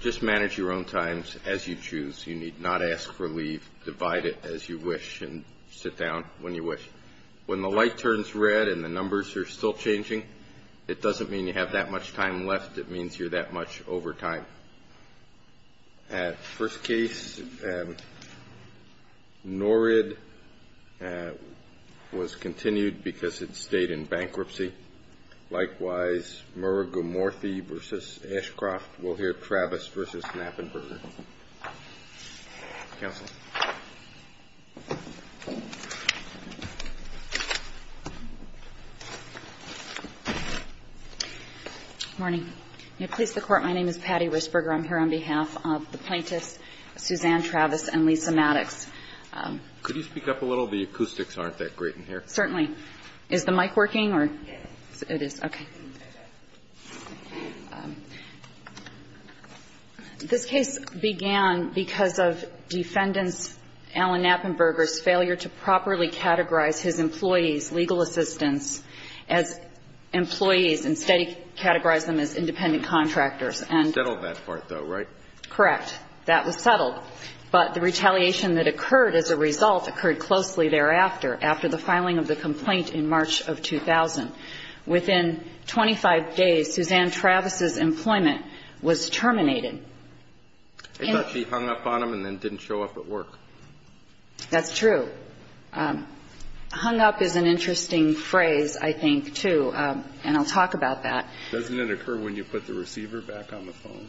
Just manage your own times as you choose. You need not ask for leave. Divide it as you wish and sit down when you wish. When the light turns red and the numbers are still changing, it doesn't mean you have that much time left. It means you're that much over time. At first case, Norid was continued because it stayed in bankruptcy. Likewise, Murr, Gumorthy v. Ashcroft will hear Travis v. Knappenberger. Counsel. Morning. May it please the Court, my name is Patty Risburger. I'm here on behalf of the plaintiffs, Suzanne Travis and Lisa Maddox. Could you speak up a little? The acoustics aren't that great in here. Certainly. Is the mic working or? Yes. It is. Okay. This case began because of Defendant Allen Knappenberger's failure to properly categorize his employees, legal assistants, as employees, instead he categorized them as independent contractors. He settled that part, though, right? Correct. That was settled. But the retaliation that occurred as a result occurred closely thereafter, after the filing of the complaint in March of 2000. Within 25 days, Suzanne Travis's employment was terminated. I thought she hung up on him and then didn't show up at work. That's true. Hung up is an interesting phrase, I think, too, and I'll talk about that. Doesn't it occur when you put the receiver back on the phone?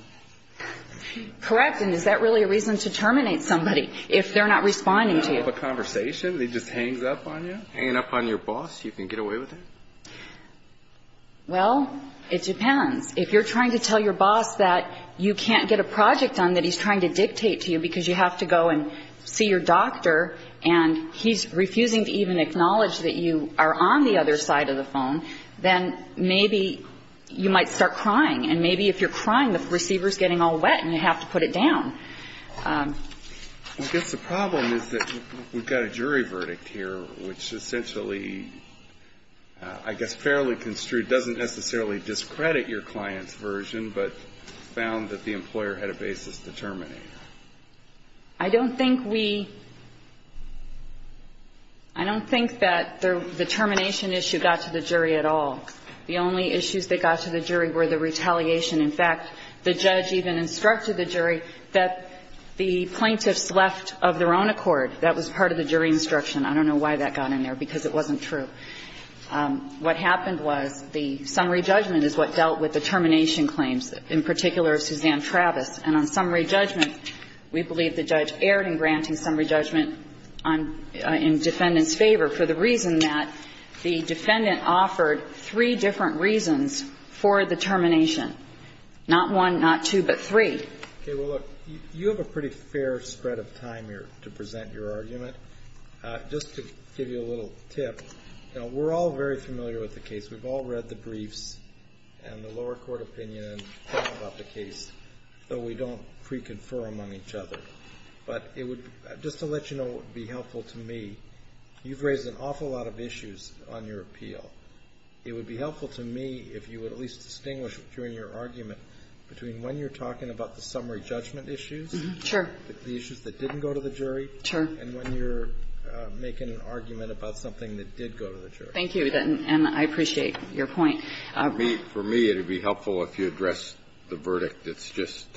Correct. And is that really a reason to terminate somebody, if they're not responding to you? They don't have a conversation. He just hangs up on you? Hanging up on your boss, you can get away with it? Well, it depends. If you're trying to tell your boss that you can't get a project done, that he's trying to dictate to you because you have to go and see your doctor, and he's refusing to even acknowledge that you are on the other side of the phone, then maybe you might start crying. And maybe if you're crying, the receiver is getting all wet and you have to put it down. I guess the problem is that we've got a jury verdict here, which essentially, I guess fairly construed, doesn't necessarily discredit your client's version, but found that the employer had a basis to terminate. I don't think we – I don't think that the termination issue got to the jury at all. The only issues that got to the jury were the retaliation. In fact, the judge even instructed the jury that the plaintiffs left of their own accord. That was part of the jury instruction. I don't know why that got in there, because it wasn't true. What happened was the summary judgment is what dealt with the termination claims, in particular of Suzanne Travis. And on summary judgment, we believe the judge erred in granting summary judgment in defendant's favor for the reason that the defendant offered three different reasons for the termination. Not one, not two, but three. Okay. Well, look, you have a pretty fair spread of time here to present your argument. Just to give you a little tip, we're all very familiar with the case. We've all read the briefs and the lower court opinion and thought about the case, though we don't pre-confer among each other. But just to let you know what would be helpful to me, you've raised an awful lot of issues on your appeal. It would be helpful to me if you would at least distinguish between your argument between when you're talking about the summary judgment issues, the issues that didn't go to the jury, and when you're making an argument about something that did go to the jury. Thank you. And I appreciate your point. For me, it would be helpful if you addressed the verdict. It's just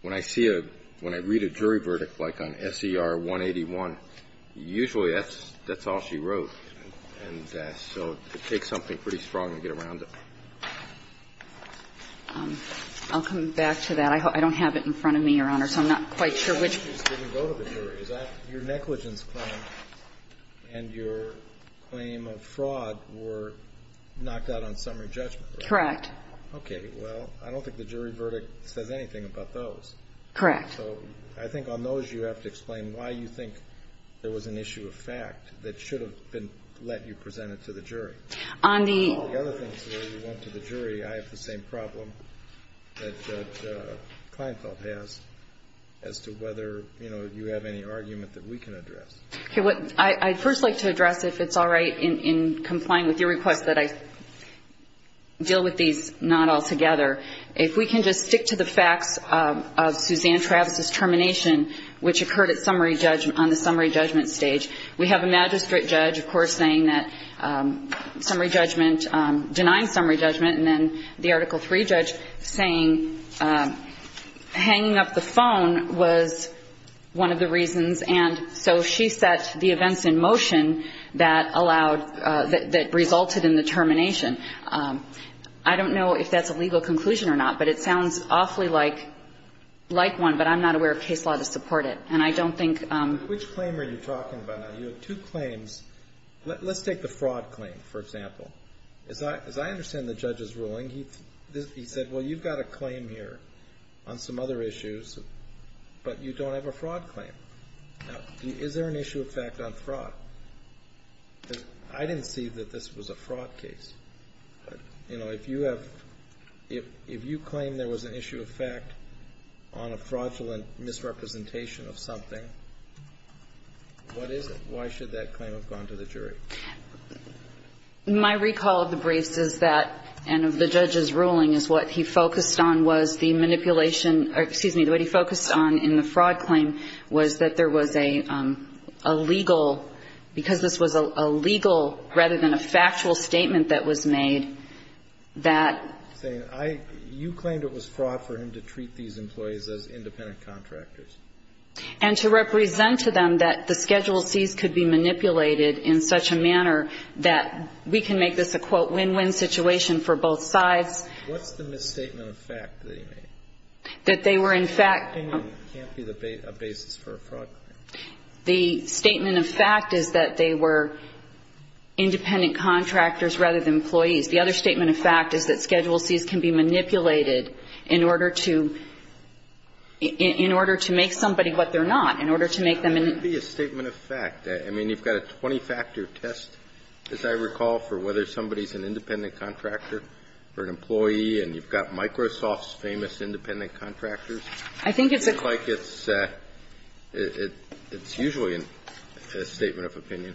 when I see a – when I read a jury verdict, like on SER 181, usually that's all she wrote. And so it takes something pretty strong to get around it. I'll come back to that. I don't have it in front of me, Your Honor, so I'm not quite sure which – The issues didn't go to the jury. Your negligence claim and your claim of fraud were knocked out on summary judgment, correct? Okay. Well, I don't think the jury verdict says anything about those. Correct. So I think on those, you have to explain why you think there was an issue of fact that should have been let you present it to the jury. On the other things that went to the jury, I have the same problem that Kleinfeld has as to whether, you know, you have any argument that we can address. Okay. I'd first like to address if it's all right in complying with your request that I deal with these not altogether. If we can just stick to the facts of Suzanne Travis's termination, which occurred on the summary judgment stage. We have a magistrate judge, of course, saying that summary judgment – denying summary judgment, and then the Article III judge saying hanging up the phone was one of the reasons. And so she set the events in motion that allowed – that resulted in the termination. I don't know if that's a legal conclusion or not, but it sounds awfully like one, but I'm not aware of case law to support it. And I don't think – Which claim are you talking about? You have two claims. Let's take the fraud claim, for example. As I understand the judge's ruling, he said, well, you've got a claim here on some other issues, but you don't have a fraud claim. Now, is there an issue of fact on fraud? Because I didn't see that this was a fraud case. You know, if you have – if you claim there was an issue of fact on a fraudulent misrepresentation of something, what is it? Why should that claim have gone to the jury? My recall of the briefs is that – and of the judge's ruling is what he focused on was the manipulation – or, excuse me, what he focused on in the fraud claim was that there was a legal – because this was a legal rather than a factual statement that was made that – You claimed it was fraud for him to treat these employees as independent contractors. And to represent to them that the Schedule Cs could be manipulated in such a manner that we can make this a, quote, win-win situation for both sides. What's the misstatement of fact that he made? That they were in fact – An opinion can't be the basis for a fraud claim. The statement of fact is that they were independent contractors rather than employees. The other statement of fact is that Schedule Cs can be manipulated in order to – in order to make somebody what they're not, in order to make them an – It can't be a statement of fact. I mean, you've got a 20-factor test, as I recall, for whether somebody is an independent contractor or an employee. And you've got Microsoft's famous independent contractors. I think it's a – It looks like it's – it's usually a statement of opinion.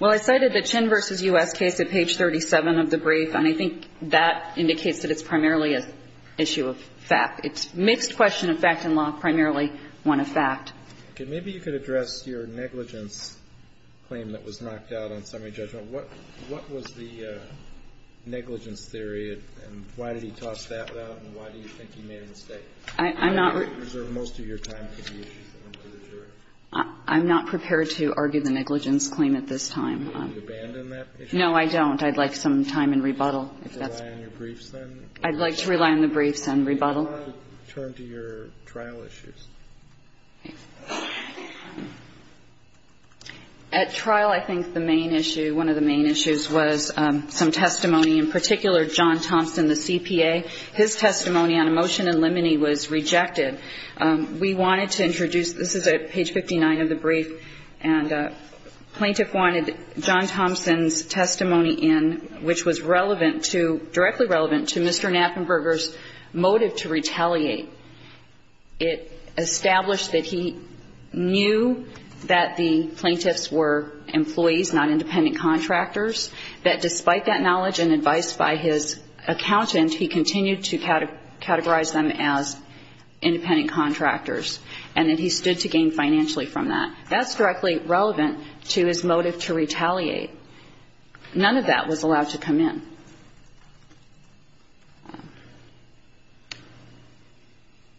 Well, I cited the Chin v. U.S. case at page 37 of the brief, and I think that indicates that it's primarily an issue of fact. It's a mixed question of fact and law, primarily one of fact. Okay. Maybe you could address your negligence claim that was knocked out on summary judgment. What was the negligence theory, and why did he toss that out, and why do you think he made a mistake? I'm not – You could reserve most of your time for the issues that went to the jury. I'm not prepared to argue the negligence claim at this time. Do you abandon that issue? No, I don't. I'd like some time in rebuttal. If that's – Do you rely on your briefs, then? I'd like to rely on the briefs and rebuttal. Do you want to turn to your trial issues? At trial, I think the main issue, one of the main issues was some testimony, in particular, John Thompson, the CPA. His testimony on emotion and limine was rejected. We wanted to introduce – this is at page 59 of the brief, and a plaintiff wanted John Thompson's testimony in, which was relevant to – directly relevant to Mr. Knappenberger's motive to retaliate. It established that he knew that the plaintiffs were employees, not independent contractors, that despite that knowledge and advice by his accountant, he continued to categorize them as independent contractors, and that he stood to gain financially from that. That's directly relevant to his motive to retaliate. None of that was allowed to come in.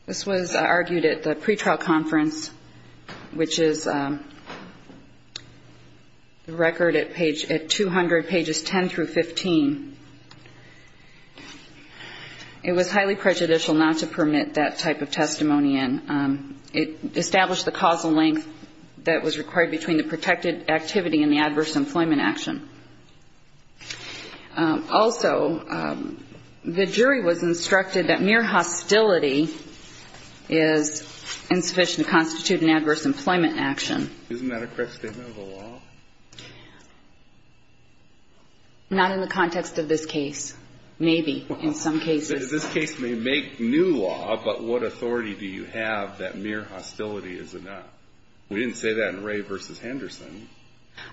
This was argued at the pretrial conference, which is the record at page – at 200 pages 10 through 15. It was highly prejudicial not to permit that type of testimony in. It established the causal length that was required between the protected activity and the adverse employment action. Also, the jury was instructed that mere hostility is insufficient to constitute an adverse employment action. Isn't that a correct statement of the law? Not in the context of this case. Maybe in some cases. This case may make new law, but what authority do you have that mere hostility is enough? We didn't say that in Ray v. Henderson.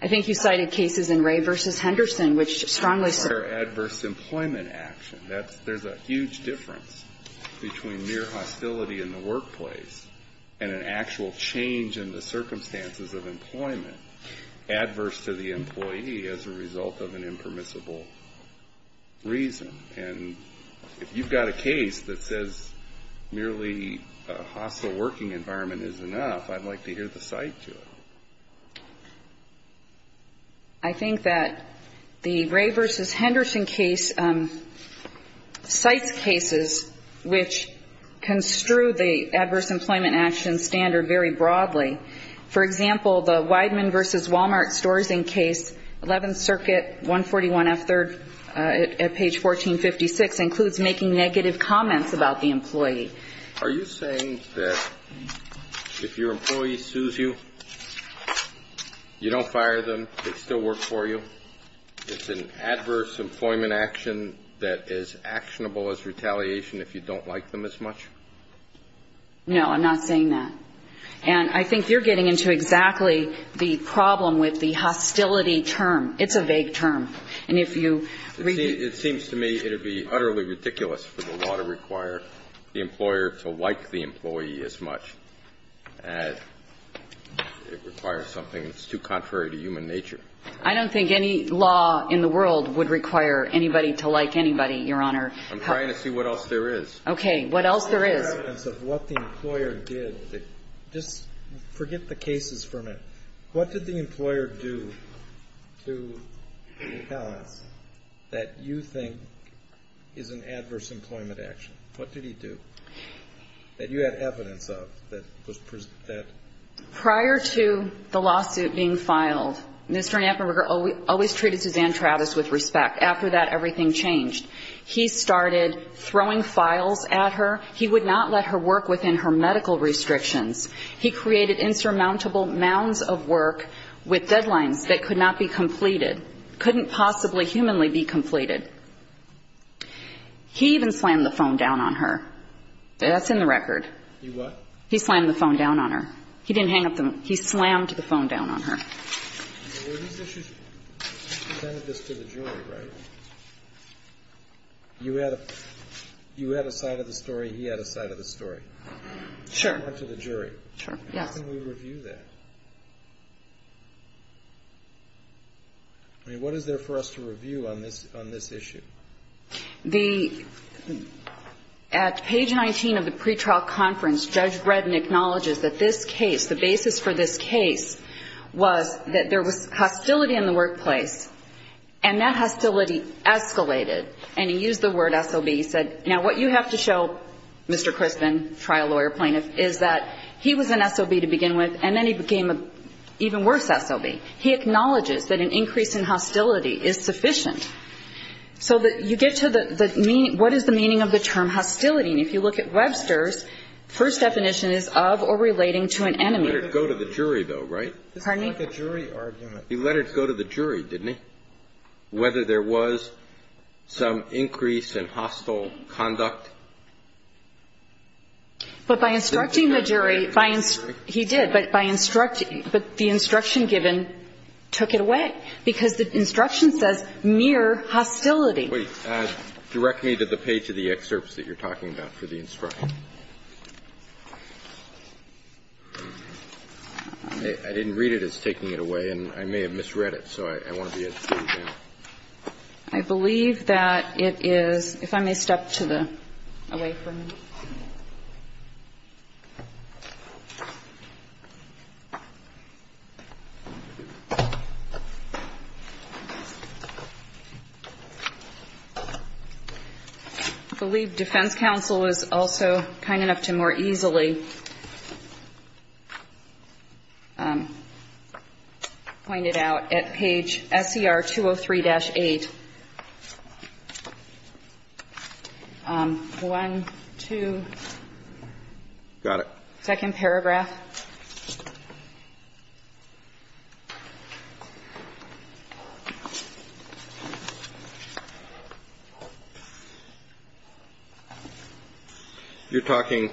I think you cited cases in Ray v. Henderson, which strongly – Adverse employment action. That's – there's a huge difference between mere hostility in the workplace and an actual change in the circumstances of employment, adverse to the employee as a result of an impermissible reason. And if you've got a case that says merely a hostile working environment is enough, I'd like to hear the cite to it. I think that the Ray v. Henderson case cites cases which construe the adverse employment action standard very broadly. For example, the Weidman v. Walmart stores-in case, 11th Circuit, 141F3rd, at page 1456, includes making negative comments about the employee. Are you saying that if your employee sues you, you don't fire them, they still work for you? It's an adverse employment action that is actionable as retaliation if you don't like them as much? No, I'm not saying that. And I think you're getting into exactly the problem with the hostility term. It's a vague term. And if you – It seems to me it would be utterly ridiculous for the law to require the employer to like the employee as much as it requires something that's too contrary to human nature. I don't think any law in the world would require anybody to like anybody, Your Honor. I'm trying to see what else there is. Okay. What else there is? Just forget the cases from it. What did the employer do to make comments that you think is an adverse employment action? What did he do that you had evidence of that was – Prior to the lawsuit being filed, Mr. Knappenberger always treated Suzanne Travis with respect. After that, everything changed. He started throwing files at her. He would not let her work within her medical restrictions. He created insurmountable mounds of work with deadlines that could not be completed, couldn't possibly humanly be completed. He even slammed the phone down on her. That's in the record. He what? He slammed the phone down on her. He didn't hang up the – he slammed the phone down on her. Were these issues kind of just to the jury, right? You had a side of the story, he had a side of the story. Sure. To the jury. Sure, yes. How can we review that? I mean, what is there for us to review on this issue? The – at page 19 of the pretrial conference, Judge Bredin acknowledges that this case, the basis for this case was that there was hostility in the workplace, and that hostility escalated, and he used the word SOB. He said, now, what you have to show, Mr. Crispin, trial lawyer plaintiff, is that he was an SOB to begin with, and then he became an even worse SOB. He acknowledges that an increase in hostility is sufficient. So you get to the – what is the meaning of the term hostility? And if you look at Webster's, first definition is of or relating to an enemy. He let it go to the jury, though, right? Pardon me? This is like a jury argument. He let it go to the jury, didn't he? Whether there was some increase in hostile conduct. But by instructing the jury, by – he did, but by instructing – but the instruction given took it away, because the instruction says mere hostility. Wait. Direct me to the page of the excerpts that you're talking about for the instruction. I didn't read it as taking it away, and I may have misread it, so I want to be as clear I believe that it is – if I may step to the – away from you. I believe defense counsel was also kind enough to more easily point it out at page SER 203-8. One, two. Got it. Second paragraph. You're talking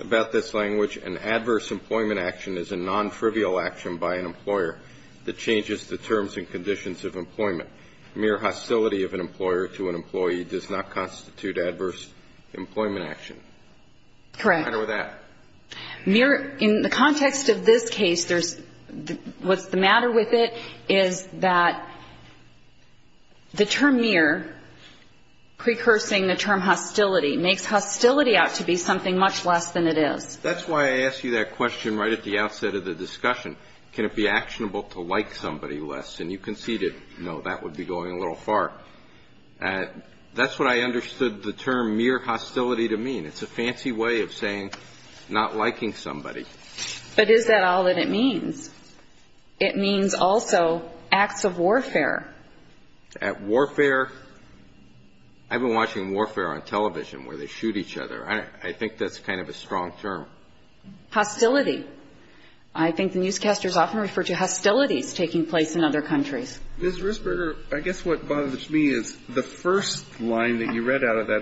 about this language. An adverse employment action is a non-trivial action by an employer that changes the terms and conditions of employment. Mere hostility of an employer to an employee does not constitute adverse employment action. Correct. What's the matter with that? Mere – in the context of this case, there's – what's the matter with it is that the term mere, precursing the term hostility, makes hostility out to be something much less than it is. That's why I asked you that question right at the outset of the discussion. Can it be actionable to like somebody less? And you conceded, no, that would be going a little far. That's what I understood the term mere hostility to mean. It's a fancy way of saying not liking somebody. But is that all that it means? It means also acts of warfare. At warfare – I've been watching warfare on television where they shoot each other. I think that's kind of a strong term. Hostility. I think the newscasters often refer to hostilities taking place in other countries. Ms. Risberger, I guess what bothers me is the first line that you read out of that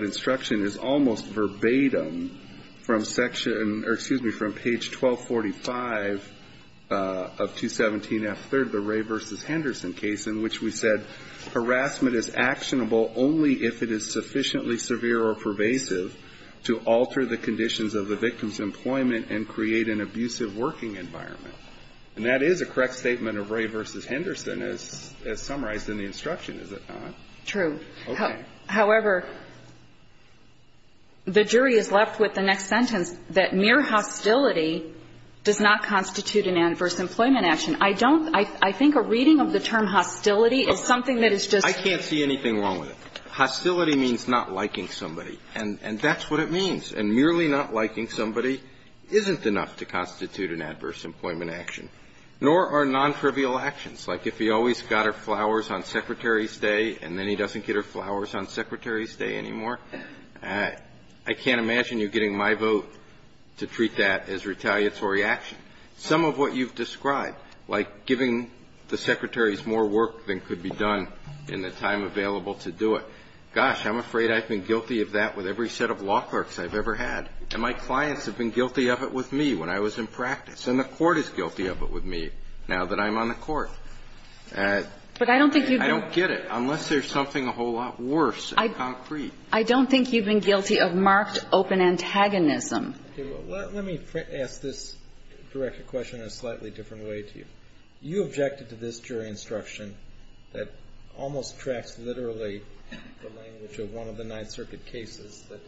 Freedom from section – or excuse me, from page 1245 of 217F3rd, the Ray v. Henderson case, in which we said, Harassment is actionable only if it is sufficiently severe or pervasive to alter the conditions of the victim's employment and create an abusive working environment. And that is a correct statement of Ray v. Henderson as summarized in the instruction, is it not? True. Okay. However, the jury is left with the next sentence, that mere hostility does not constitute an adverse employment action. I don't – I think a reading of the term hostility is something that is just – I can't see anything wrong with it. Hostility means not liking somebody. And that's what it means. And merely not liking somebody isn't enough to constitute an adverse employment action, nor are non-trivial actions. Like, if he always got her flowers on Secretary's Day, and then he doesn't get her flowers on Secretary's Day anymore, I can't imagine you getting my vote to treat that as retaliatory action. Some of what you've described, like giving the secretaries more work than could be done in the time available to do it, gosh, I'm afraid I've been guilty of that with every set of law clerks I've ever had. And my clients have been guilty of it with me when I was in practice. And the Court is guilty of it with me now that I'm on the Court. But I don't think you've been – I don't get it, unless there's something a whole lot worse in concrete. I don't think you've been guilty of marked open antagonism. Okay. Well, let me ask this directed question in a slightly different way to you. You objected to this jury instruction that almost tracks literally the language of one of the Ninth Circuit cases that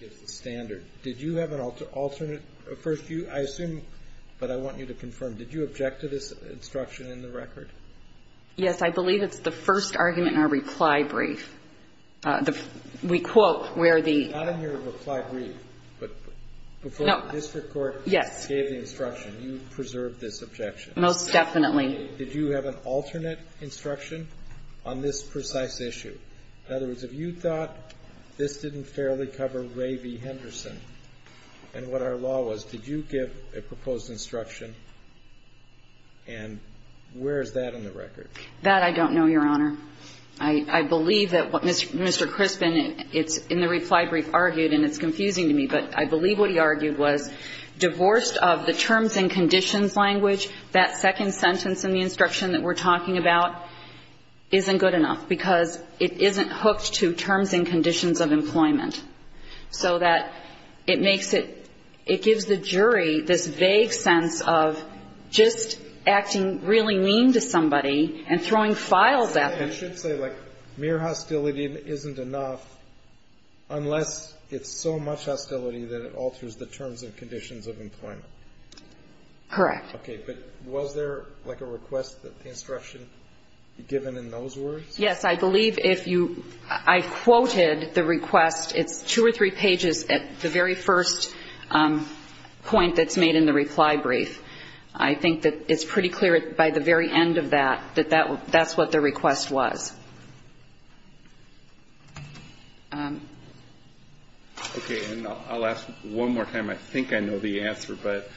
gives the standard. Did you have an alternate – first, I assume, but I want you to confirm, did you object to this instruction in the record? Yes. I believe it's the first argument in our reply brief. We quote where the – Not in your reply brief, but before the district court gave the instruction, you preserved this objection. Most definitely. Did you have an alternate instruction on this precise issue? In other words, if you thought this didn't fairly cover Ray v. Henderson and what our law was, did you give a proposed instruction? And where is that in the record? That I don't know, Your Honor. I believe that what Mr. Crispin in the reply brief argued, and it's confusing to me, but I believe what he argued was divorced of the terms and conditions language, that second sentence in the instruction that we're talking about isn't good enough because it isn't hooked to terms and conditions of employment. So that it makes it – it gives the jury this vague sense of just acting really mean to somebody and throwing files at them. I should say, like, mere hostility isn't enough unless it's so much hostility that it alters the terms and conditions of employment. Correct. Okay. But was there, like, a request that the instruction given in those words? Yes. I believe if you – I quoted the request. It's two or three pages at the very first point that's made in the reply brief. I think that it's pretty clear by the very end of that that that's what the request was. Okay. And I'll ask one more time. I think I know the answer, but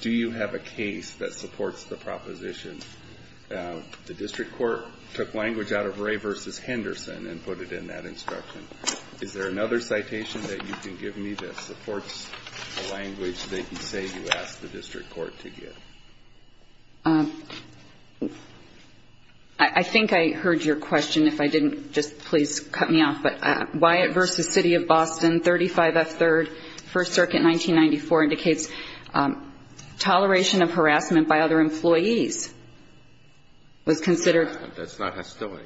do you have a case that supports the proposition the district court took language out of Ray v. Henderson and put it in that instruction? Is there another citation that you can give me that supports the language that you say you asked the district court to give? I think I heard your question. If I didn't, just please cut me off. But Wyatt v. City of Boston, 35F3rd, First Circuit, 1994, indicates toleration of harassment by other employees was considered. That's not hostility.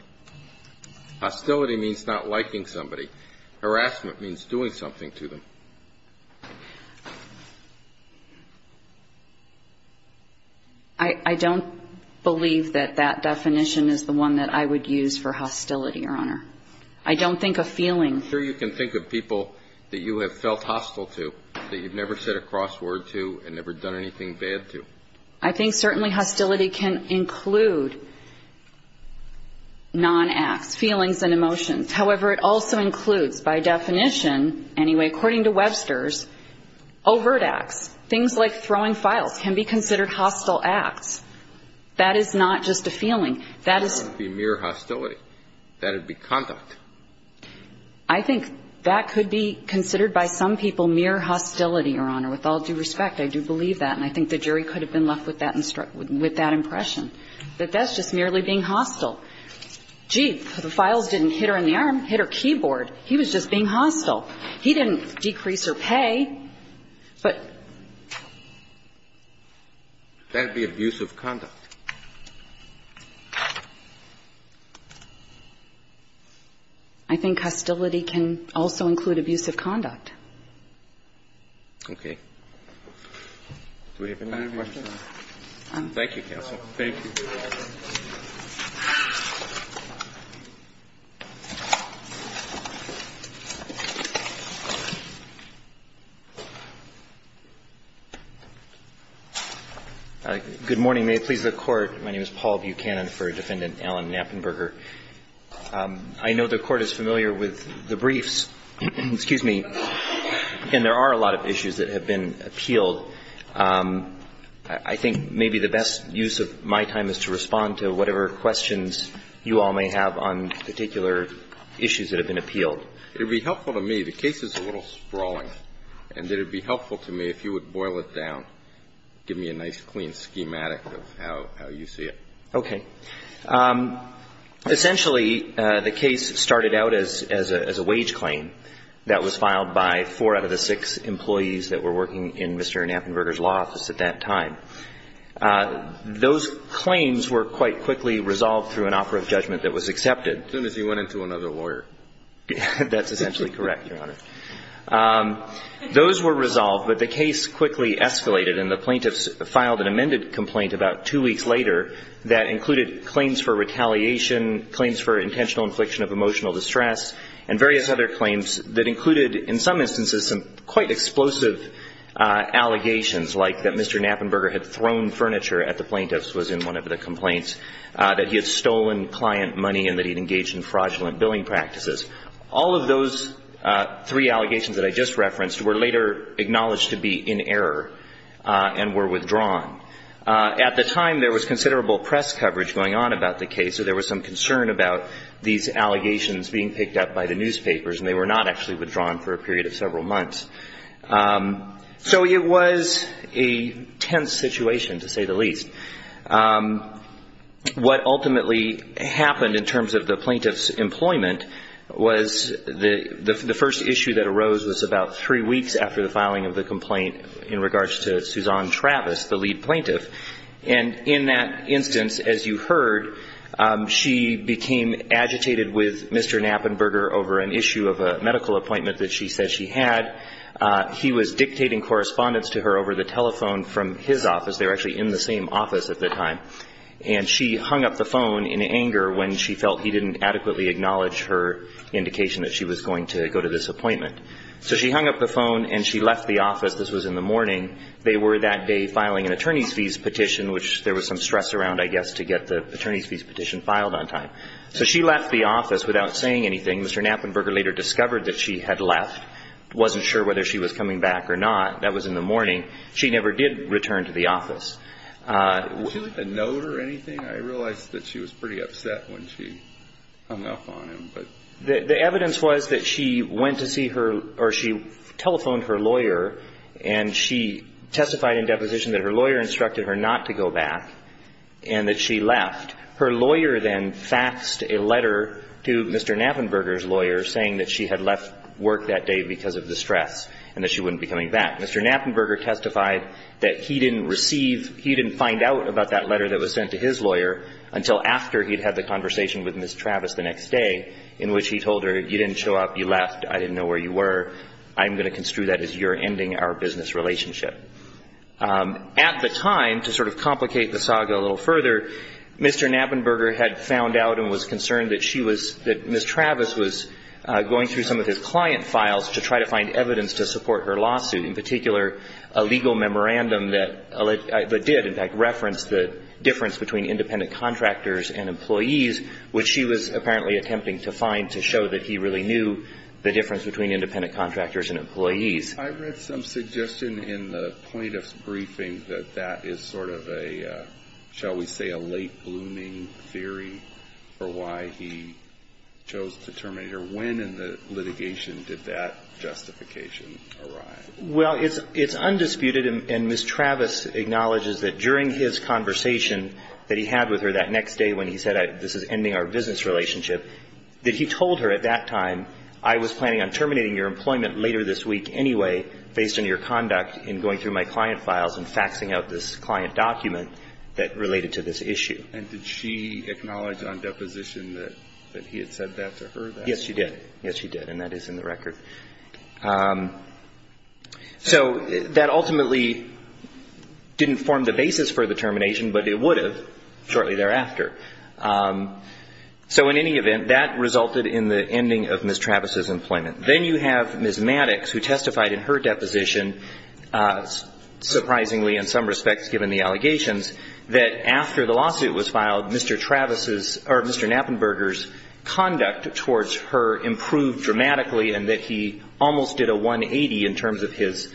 Hostility means not liking somebody. Harassment means doing something to them. I don't believe that that definition is the one that I would use for hostility, Your Honor. I don't think a feeling. I'm sure you can think of people that you have felt hostile to, that you've never said a crossword to and never done anything bad to. I think certainly hostility can include non-acts, feelings and emotions. However, it also includes, by definition, anyway, according to Webster's, overt acts. Things like throwing files can be considered hostile acts. That is not just a feeling. That is not going to be mere hostility. That would be conduct. I think that could be considered by some people mere hostility, Your Honor. With all due respect, I do believe that. And I think the jury could have been left with that impression, that that's just merely being hostile. Gee, the files didn't hit her in the arm, hit her keyboard. He was just being hostile. He didn't decrease her pay. But that would be abusive conduct. I think hostility can also include abusive conduct. Okay. Do we have any other questions? Thank you, counsel. Thank you. Good morning. May it please the Court. My name is Paul Buchanan for Defendant Alan Knappenberger. I know the Court is familiar with the briefs. Excuse me. And there are a lot of issues that have been appealed. I think maybe the best use of my time is to respond to whatever questions you all may have on particular issues that have been appealed. It would be helpful to me. The case is a little sprawling. And it would be helpful to me if you would boil it down, give me a nice clean schematic of how you see it. Okay. Essentially, the case started out as a wage claim that was filed by four out of the six employees that were working in Mr. Knappenberger's law office at that time. Those claims were quite quickly resolved through an offer of judgment that was accepted. As soon as he went into another lawyer. That's essentially correct, Your Honor. Those were resolved, but the case quickly escalated, and the plaintiffs filed an amended complaint about two weeks later that included claims for retaliation, claims for intentional infliction of emotional distress, and various other claims that included in some instances some quite explosive allegations like that Mr. Knappenberger had thrown furniture at the plaintiffs, was in one of the complaints, that he had stolen client money, and that he had engaged in fraudulent billing practices. All of those three allegations that I just referenced were later acknowledged to be in error and were withdrawn. At the time, there was considerable press coverage going on about the case, so there was some concern about these allegations being picked up by the newspapers, and they were not actually withdrawn for a period of several months. So it was a tense situation, to say the least. What ultimately happened in terms of the plaintiff's employment was the first issue that arose was about three weeks after the filing of the complaint in regards to Suzanne Travis, the lead plaintiff. And in that instance, as you heard, she became agitated with Mr. Knappenberger over an issue of a medical appointment that she said she had. He was dictating correspondence to her over the telephone from his office. They were actually in the same office at the time. And she hung up the phone in anger when she felt he didn't adequately acknowledge her indication that she was going to go to this appointment. So she hung up the phone and she left the office. This was in the morning. They were that day filing an attorney's fees petition, which there was some stress around, I guess, to get the attorney's fees petition filed on time. So she left the office without saying anything. Mr. Knappenberger later discovered that she had left, wasn't sure whether she was coming back or not. That was in the morning. She never did return to the office. Did she leave a note or anything? I realize that she was pretty upset when she hung up on him. The evidence was that she went to see her or she telephoned her lawyer and she testified in deposition that her lawyer instructed her not to go back and that she left. Her lawyer then faxed a letter to Mr. Knappenberger's lawyer saying that she had left work that day because of the stress and that she wouldn't be coming back. Mr. Knappenberger testified that he didn't receive, he didn't find out about that letter that was sent to his lawyer until after he'd had the conversation with Ms. Travis the next day, in which he told her, you didn't show up, you left, I didn't know where you were, I'm going to construe that as your ending our business relationship. At the time, to sort of complicate the saga a little further, Mr. Knappenberger had found out and was concerned that she was, that Ms. Travis was going through some of his client files to try to find evidence to support her lawsuit, in particular, a legal memorandum that did, in fact, reference the difference between independent contractors and employees, which she was apparently attempting to find to show that he really knew the difference between independent contractors and employees. I read some suggestion in the plaintiff's briefing that that is sort of a, shall we say, a late-blooming theory for why he chose to terminate her. When in the litigation did that justification arrive? Well, it's undisputed, and Ms. Travis acknowledges that during his conversation that he had with her that next day when he said, this is ending our business relationship, that he told her at that time, I was planning on terminating your employment later this week anyway, based on your conduct in going through my client files and faxing out this client document that related to this issue. And did she acknowledge on deposition that he had said that to her? Yes, she did. Yes, she did, and that is in the record. So that ultimately didn't form the basis for the termination, but it would have shortly thereafter. So in any event, that resulted in the ending of Ms. Travis's employment. Then you have Ms. Maddox, who testified in her deposition, surprisingly in some respects given the allegations, that after the lawsuit was filed, Mr. Travis's or Mr. Knappenberger's conduct towards her improved dramatically and that he almost did a 180 in terms of his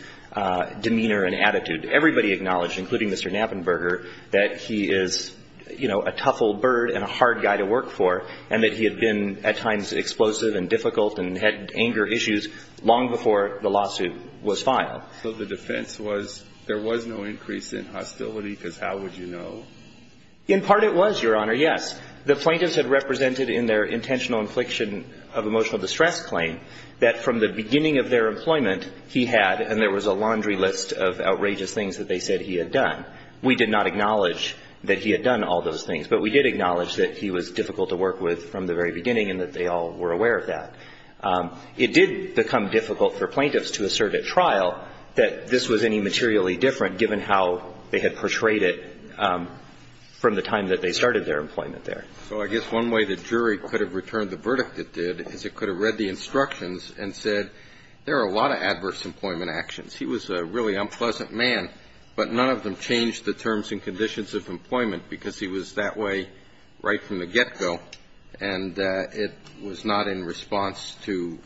demeanor and attitude. Everybody acknowledged, including Mr. Knappenberger, that he is, you know, a tough old bird and a hard guy to work for, and that he had been at times explosive and difficult and had anger issues long before the lawsuit was filed. So the defense was there was no increase in hostility, because how would you know? In part it was, Your Honor, yes. The plaintiffs had represented in their intentional infliction of emotional distress claim that from the beginning of their employment, he had, and there was a laundry list of outrageous things that they said he had done. We did not acknowledge that he had done all those things, but we did acknowledge that he was difficult to work with from the very beginning and that they all were aware of that. It did become difficult for plaintiffs to assert at trial that this was any materially different given how they had portrayed it from the time that they started their employment there. So I guess one way the jury could have returned the verdict it did is it could have read the instructions and said there are a lot of adverse employment actions. He was a really unpleasant man, but none of them changed the terms and conditions of employment because he was that way right from the get-go, and it was not in response to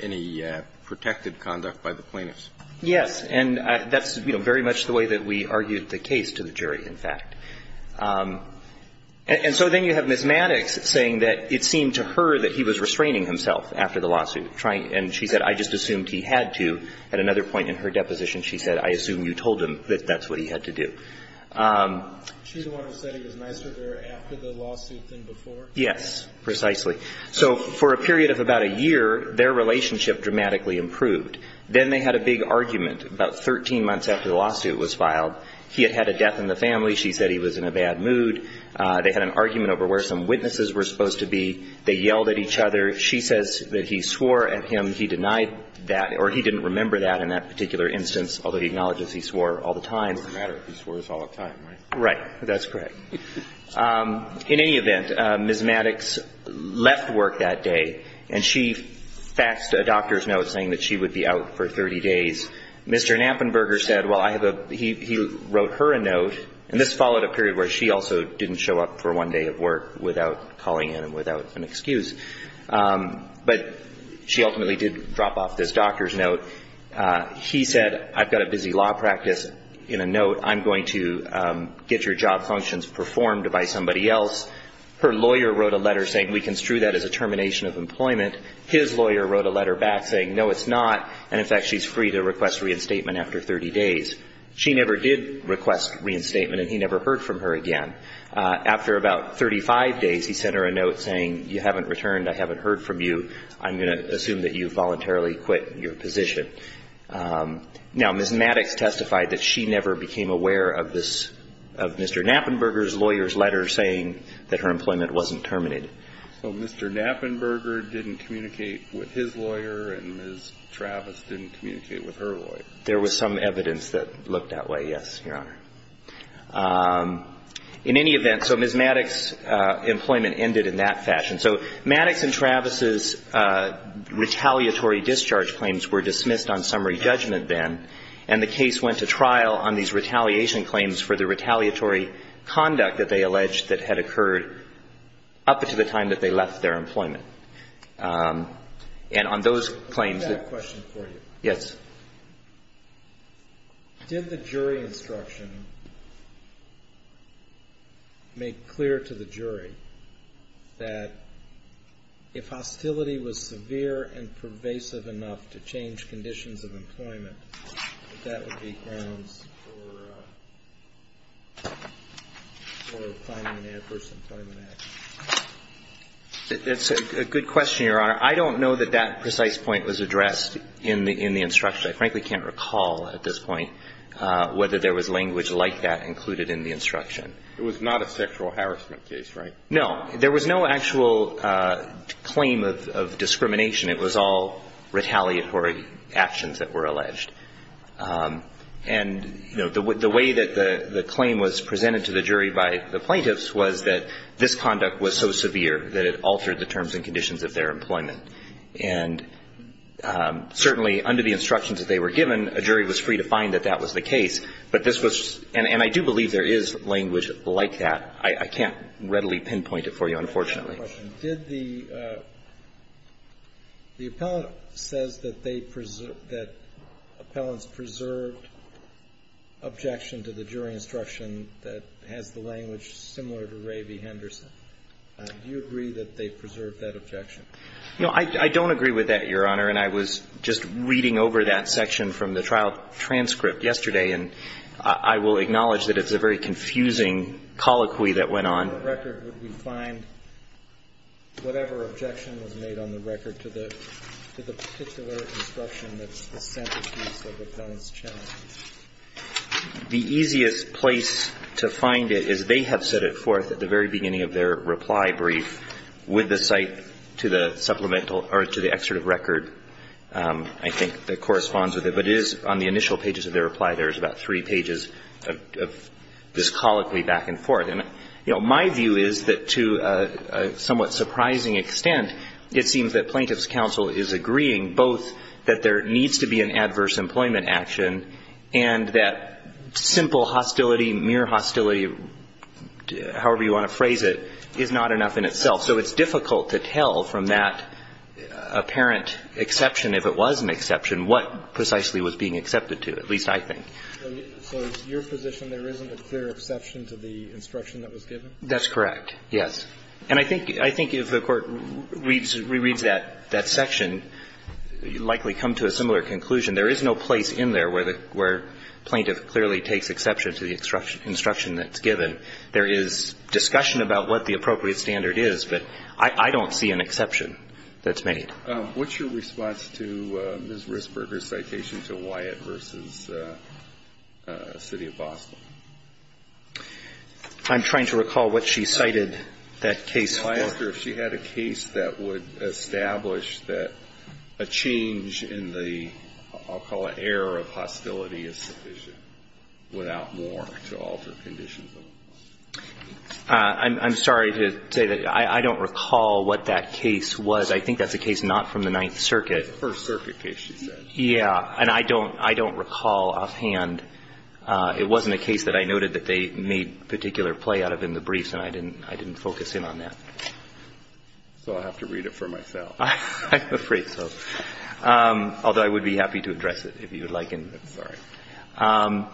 any protected conduct by the plaintiffs. Yes, and that's, you know, very much the way that we argued the case to the jury, in fact. And so then you have Ms. Maddox saying that it seemed to her that he was restraining himself after the lawsuit, and she said, I just assumed he had to. At another point in her deposition, she said, I assume you told him that that's what he had to do. She's the one who said he was nicer there after the lawsuit than before? Yes, precisely. So for a period of about a year, their relationship dramatically improved. Then they had a big argument about 13 months after the lawsuit was filed. He had had a death in the family. She said he was in a bad mood. They had an argument over where some witnesses were supposed to be. They yelled at each other. She says that he swore at him. He denied that, or he didn't remember that in that particular instance, although he acknowledges he swore all the time. It doesn't matter if he swore all the time, right? Right. That's correct. In any event, Ms. Maddox left work that day, and she faxed a doctor's note saying that she would be out for 30 days. Mr. Knappenberger said, well, I have a – he wrote her a note, and this followed a period where she also didn't show up for one day of work without calling in and without an excuse. But she ultimately did drop off this doctor's note. He said, I've got a busy law practice. In a note, I'm going to get your job functions performed by somebody else. Her lawyer wrote a letter saying we construe that as a termination of employment. His lawyer wrote a letter back saying, no, it's not. And, in fact, she's free to request reinstatement after 30 days. She never did request reinstatement, and he never heard from her again. After about 35 days, he sent her a note saying, you haven't returned. I haven't heard from you. I'm going to assume that you voluntarily quit your position. Now, Ms. Maddox testified that she never became aware of this – of Mr. Knappenberger's lawyer's letter saying that her employment wasn't terminated. So Mr. Knappenberger didn't communicate with his lawyer and Ms. Travis didn't communicate with her lawyer. There was some evidence that looked that way, yes, Your Honor. In any event, so Ms. Maddox's employment ended in that fashion. So Maddox and Travis's retaliatory discharge claims were dismissed on summary judgment then, and the case went to trial on these retaliation claims for the retaliatory conduct that they alleged that had occurred up until the time that they left their employment. And on those claims that – Let me ask a question for you. Yes. Did the jury instruction make clear to the jury that if hostility was severe and pervasive enough to change conditions of employment, that that would be grounds for filing an adverse employment action? That's a good question, Your Honor. I don't know that that precise point was addressed in the instruction. I frankly can't recall at this point whether there was language like that included in the instruction. It was not a sexual harassment case, right? No. There was no actual claim of discrimination. It was all retaliatory actions that were alleged. And, you know, the way that the claim was presented to the jury by the plaintiffs was that this conduct was so severe that it altered the terms and conditions of their employment. And certainly under the instructions that they were given, a jury was free to find that that was the case. But this was – and I do believe there is language like that. I can't readily pinpoint it for you, unfortunately. I have a question. Did the – the appellant says that they – that appellants preserved objection to the jury instruction that has the language similar to Ray v. Henderson. Do you agree that they preserved that objection? You know, I don't agree with that, Your Honor. And I was just reading over that section from the trial transcript yesterday. And I will acknowledge that it's a very confusing colloquy that went on. On what record would we find whatever objection was made on the record to the particular instruction that's the centerpiece of the defendant's challenge? The easiest place to find it is they have set it forth at the very beginning of their reply brief with the cite to the supplemental – or to the excerpt of record, I think, that corresponds with it. But it is on the initial pages of their reply. There is about three pages of this colloquy back and forth. And, you know, my view is that to a somewhat surprising extent, it seems that plaintiff's counsel is agreeing both that there needs to be an adverse employment action and that simple hostility, mere hostility, however you want to phrase it, is not enough in itself. So it's difficult to tell from that apparent exception, if it was an exception, what precisely was being accepted to, at least I think. So it's your position there isn't a clear exception to the instruction that was given? That's correct, yes. And I think if the Court re-reads that section, likely come to a similar conclusion. There is no place in there where plaintiff clearly takes exception to the instruction that's given. There is discussion about what the appropriate standard is, but I don't see an exception that's made. What's your response to Ms. Risberger's citation to Wyatt v. City of Boston? I'm trying to recall what she cited that case for. I asked her if she had a case that would establish that a change in the, I'll call it, error of hostility is sufficient without more to alter conditions. I'm sorry to say that I don't recall what that case was. I think that's a case not from the Ninth Circuit. It's a First Circuit case, she said. Yeah. And I don't recall offhand. It wasn't a case that I noted that they made particular play out of in the briefs, and I didn't focus in on that. So I'll have to read it for myself. I'm afraid so, although I would be happy to address it if you would like. I'm sorry. I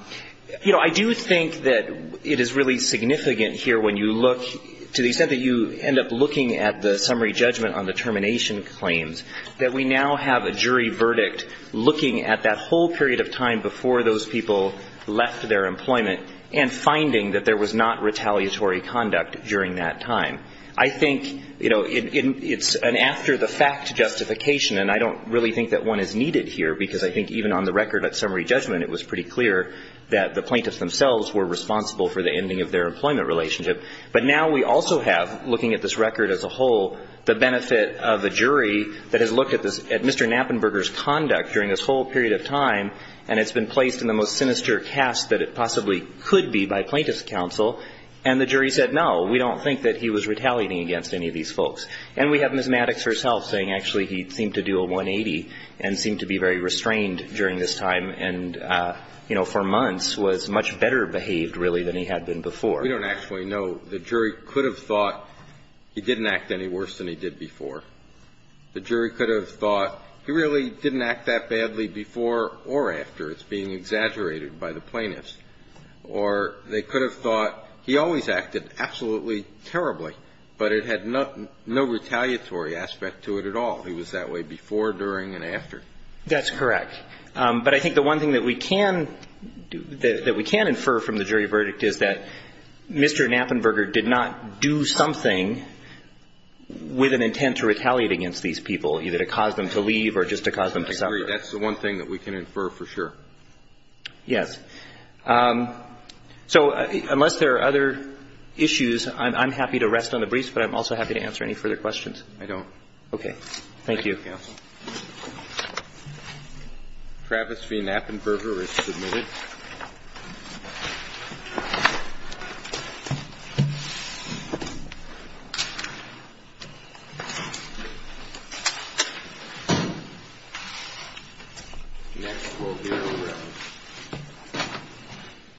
think that you end up looking at the summary judgment on the termination claims, that we now have a jury verdict looking at that whole period of time before those people left their employment and finding that there was not retaliatory conduct during that time. I think, you know, it's an after-the-fact justification, and I don't really think that one is needed here because I think even on the record at summary judgment it was pretty clear that the plaintiffs themselves were responsible for the ending of their employment relationship. But now we also have, looking at this record as a whole, the benefit of a jury that has looked at Mr. Knappenberger's conduct during this whole period of time, and it's been placed in the most sinister cast that it possibly could be by plaintiff's counsel, and the jury said, no, we don't think that he was retaliating against any of these folks. And we have Ms. Maddox herself saying, actually, he seemed to do a 180 and seemed to be very restrained during this time and, you know, for months was much better behaved, really, than he had been before. We don't actually know. The jury could have thought he didn't act any worse than he did before. The jury could have thought he really didn't act that badly before or after. It's being exaggerated by the plaintiffs. Or they could have thought he always acted absolutely terribly, but it had no retaliatory aspect to it at all. He was that way before, during, and after. That's correct. But I think the one thing that we can do, that we can infer from the jury verdict is that Mr. Knappenberger did not do something with an intent to retaliate against these people, either to cause them to leave or just to cause them to suffer. I agree. That's the one thing that we can infer for sure. Yes. So unless there are other issues, I'm happy to rest on the briefs, but I'm also happy to answer any further questions. I don't. Okay. Thank you. Thank you, counsel. Travis V. Knappenberger is submitted. Next we'll hear from Travis.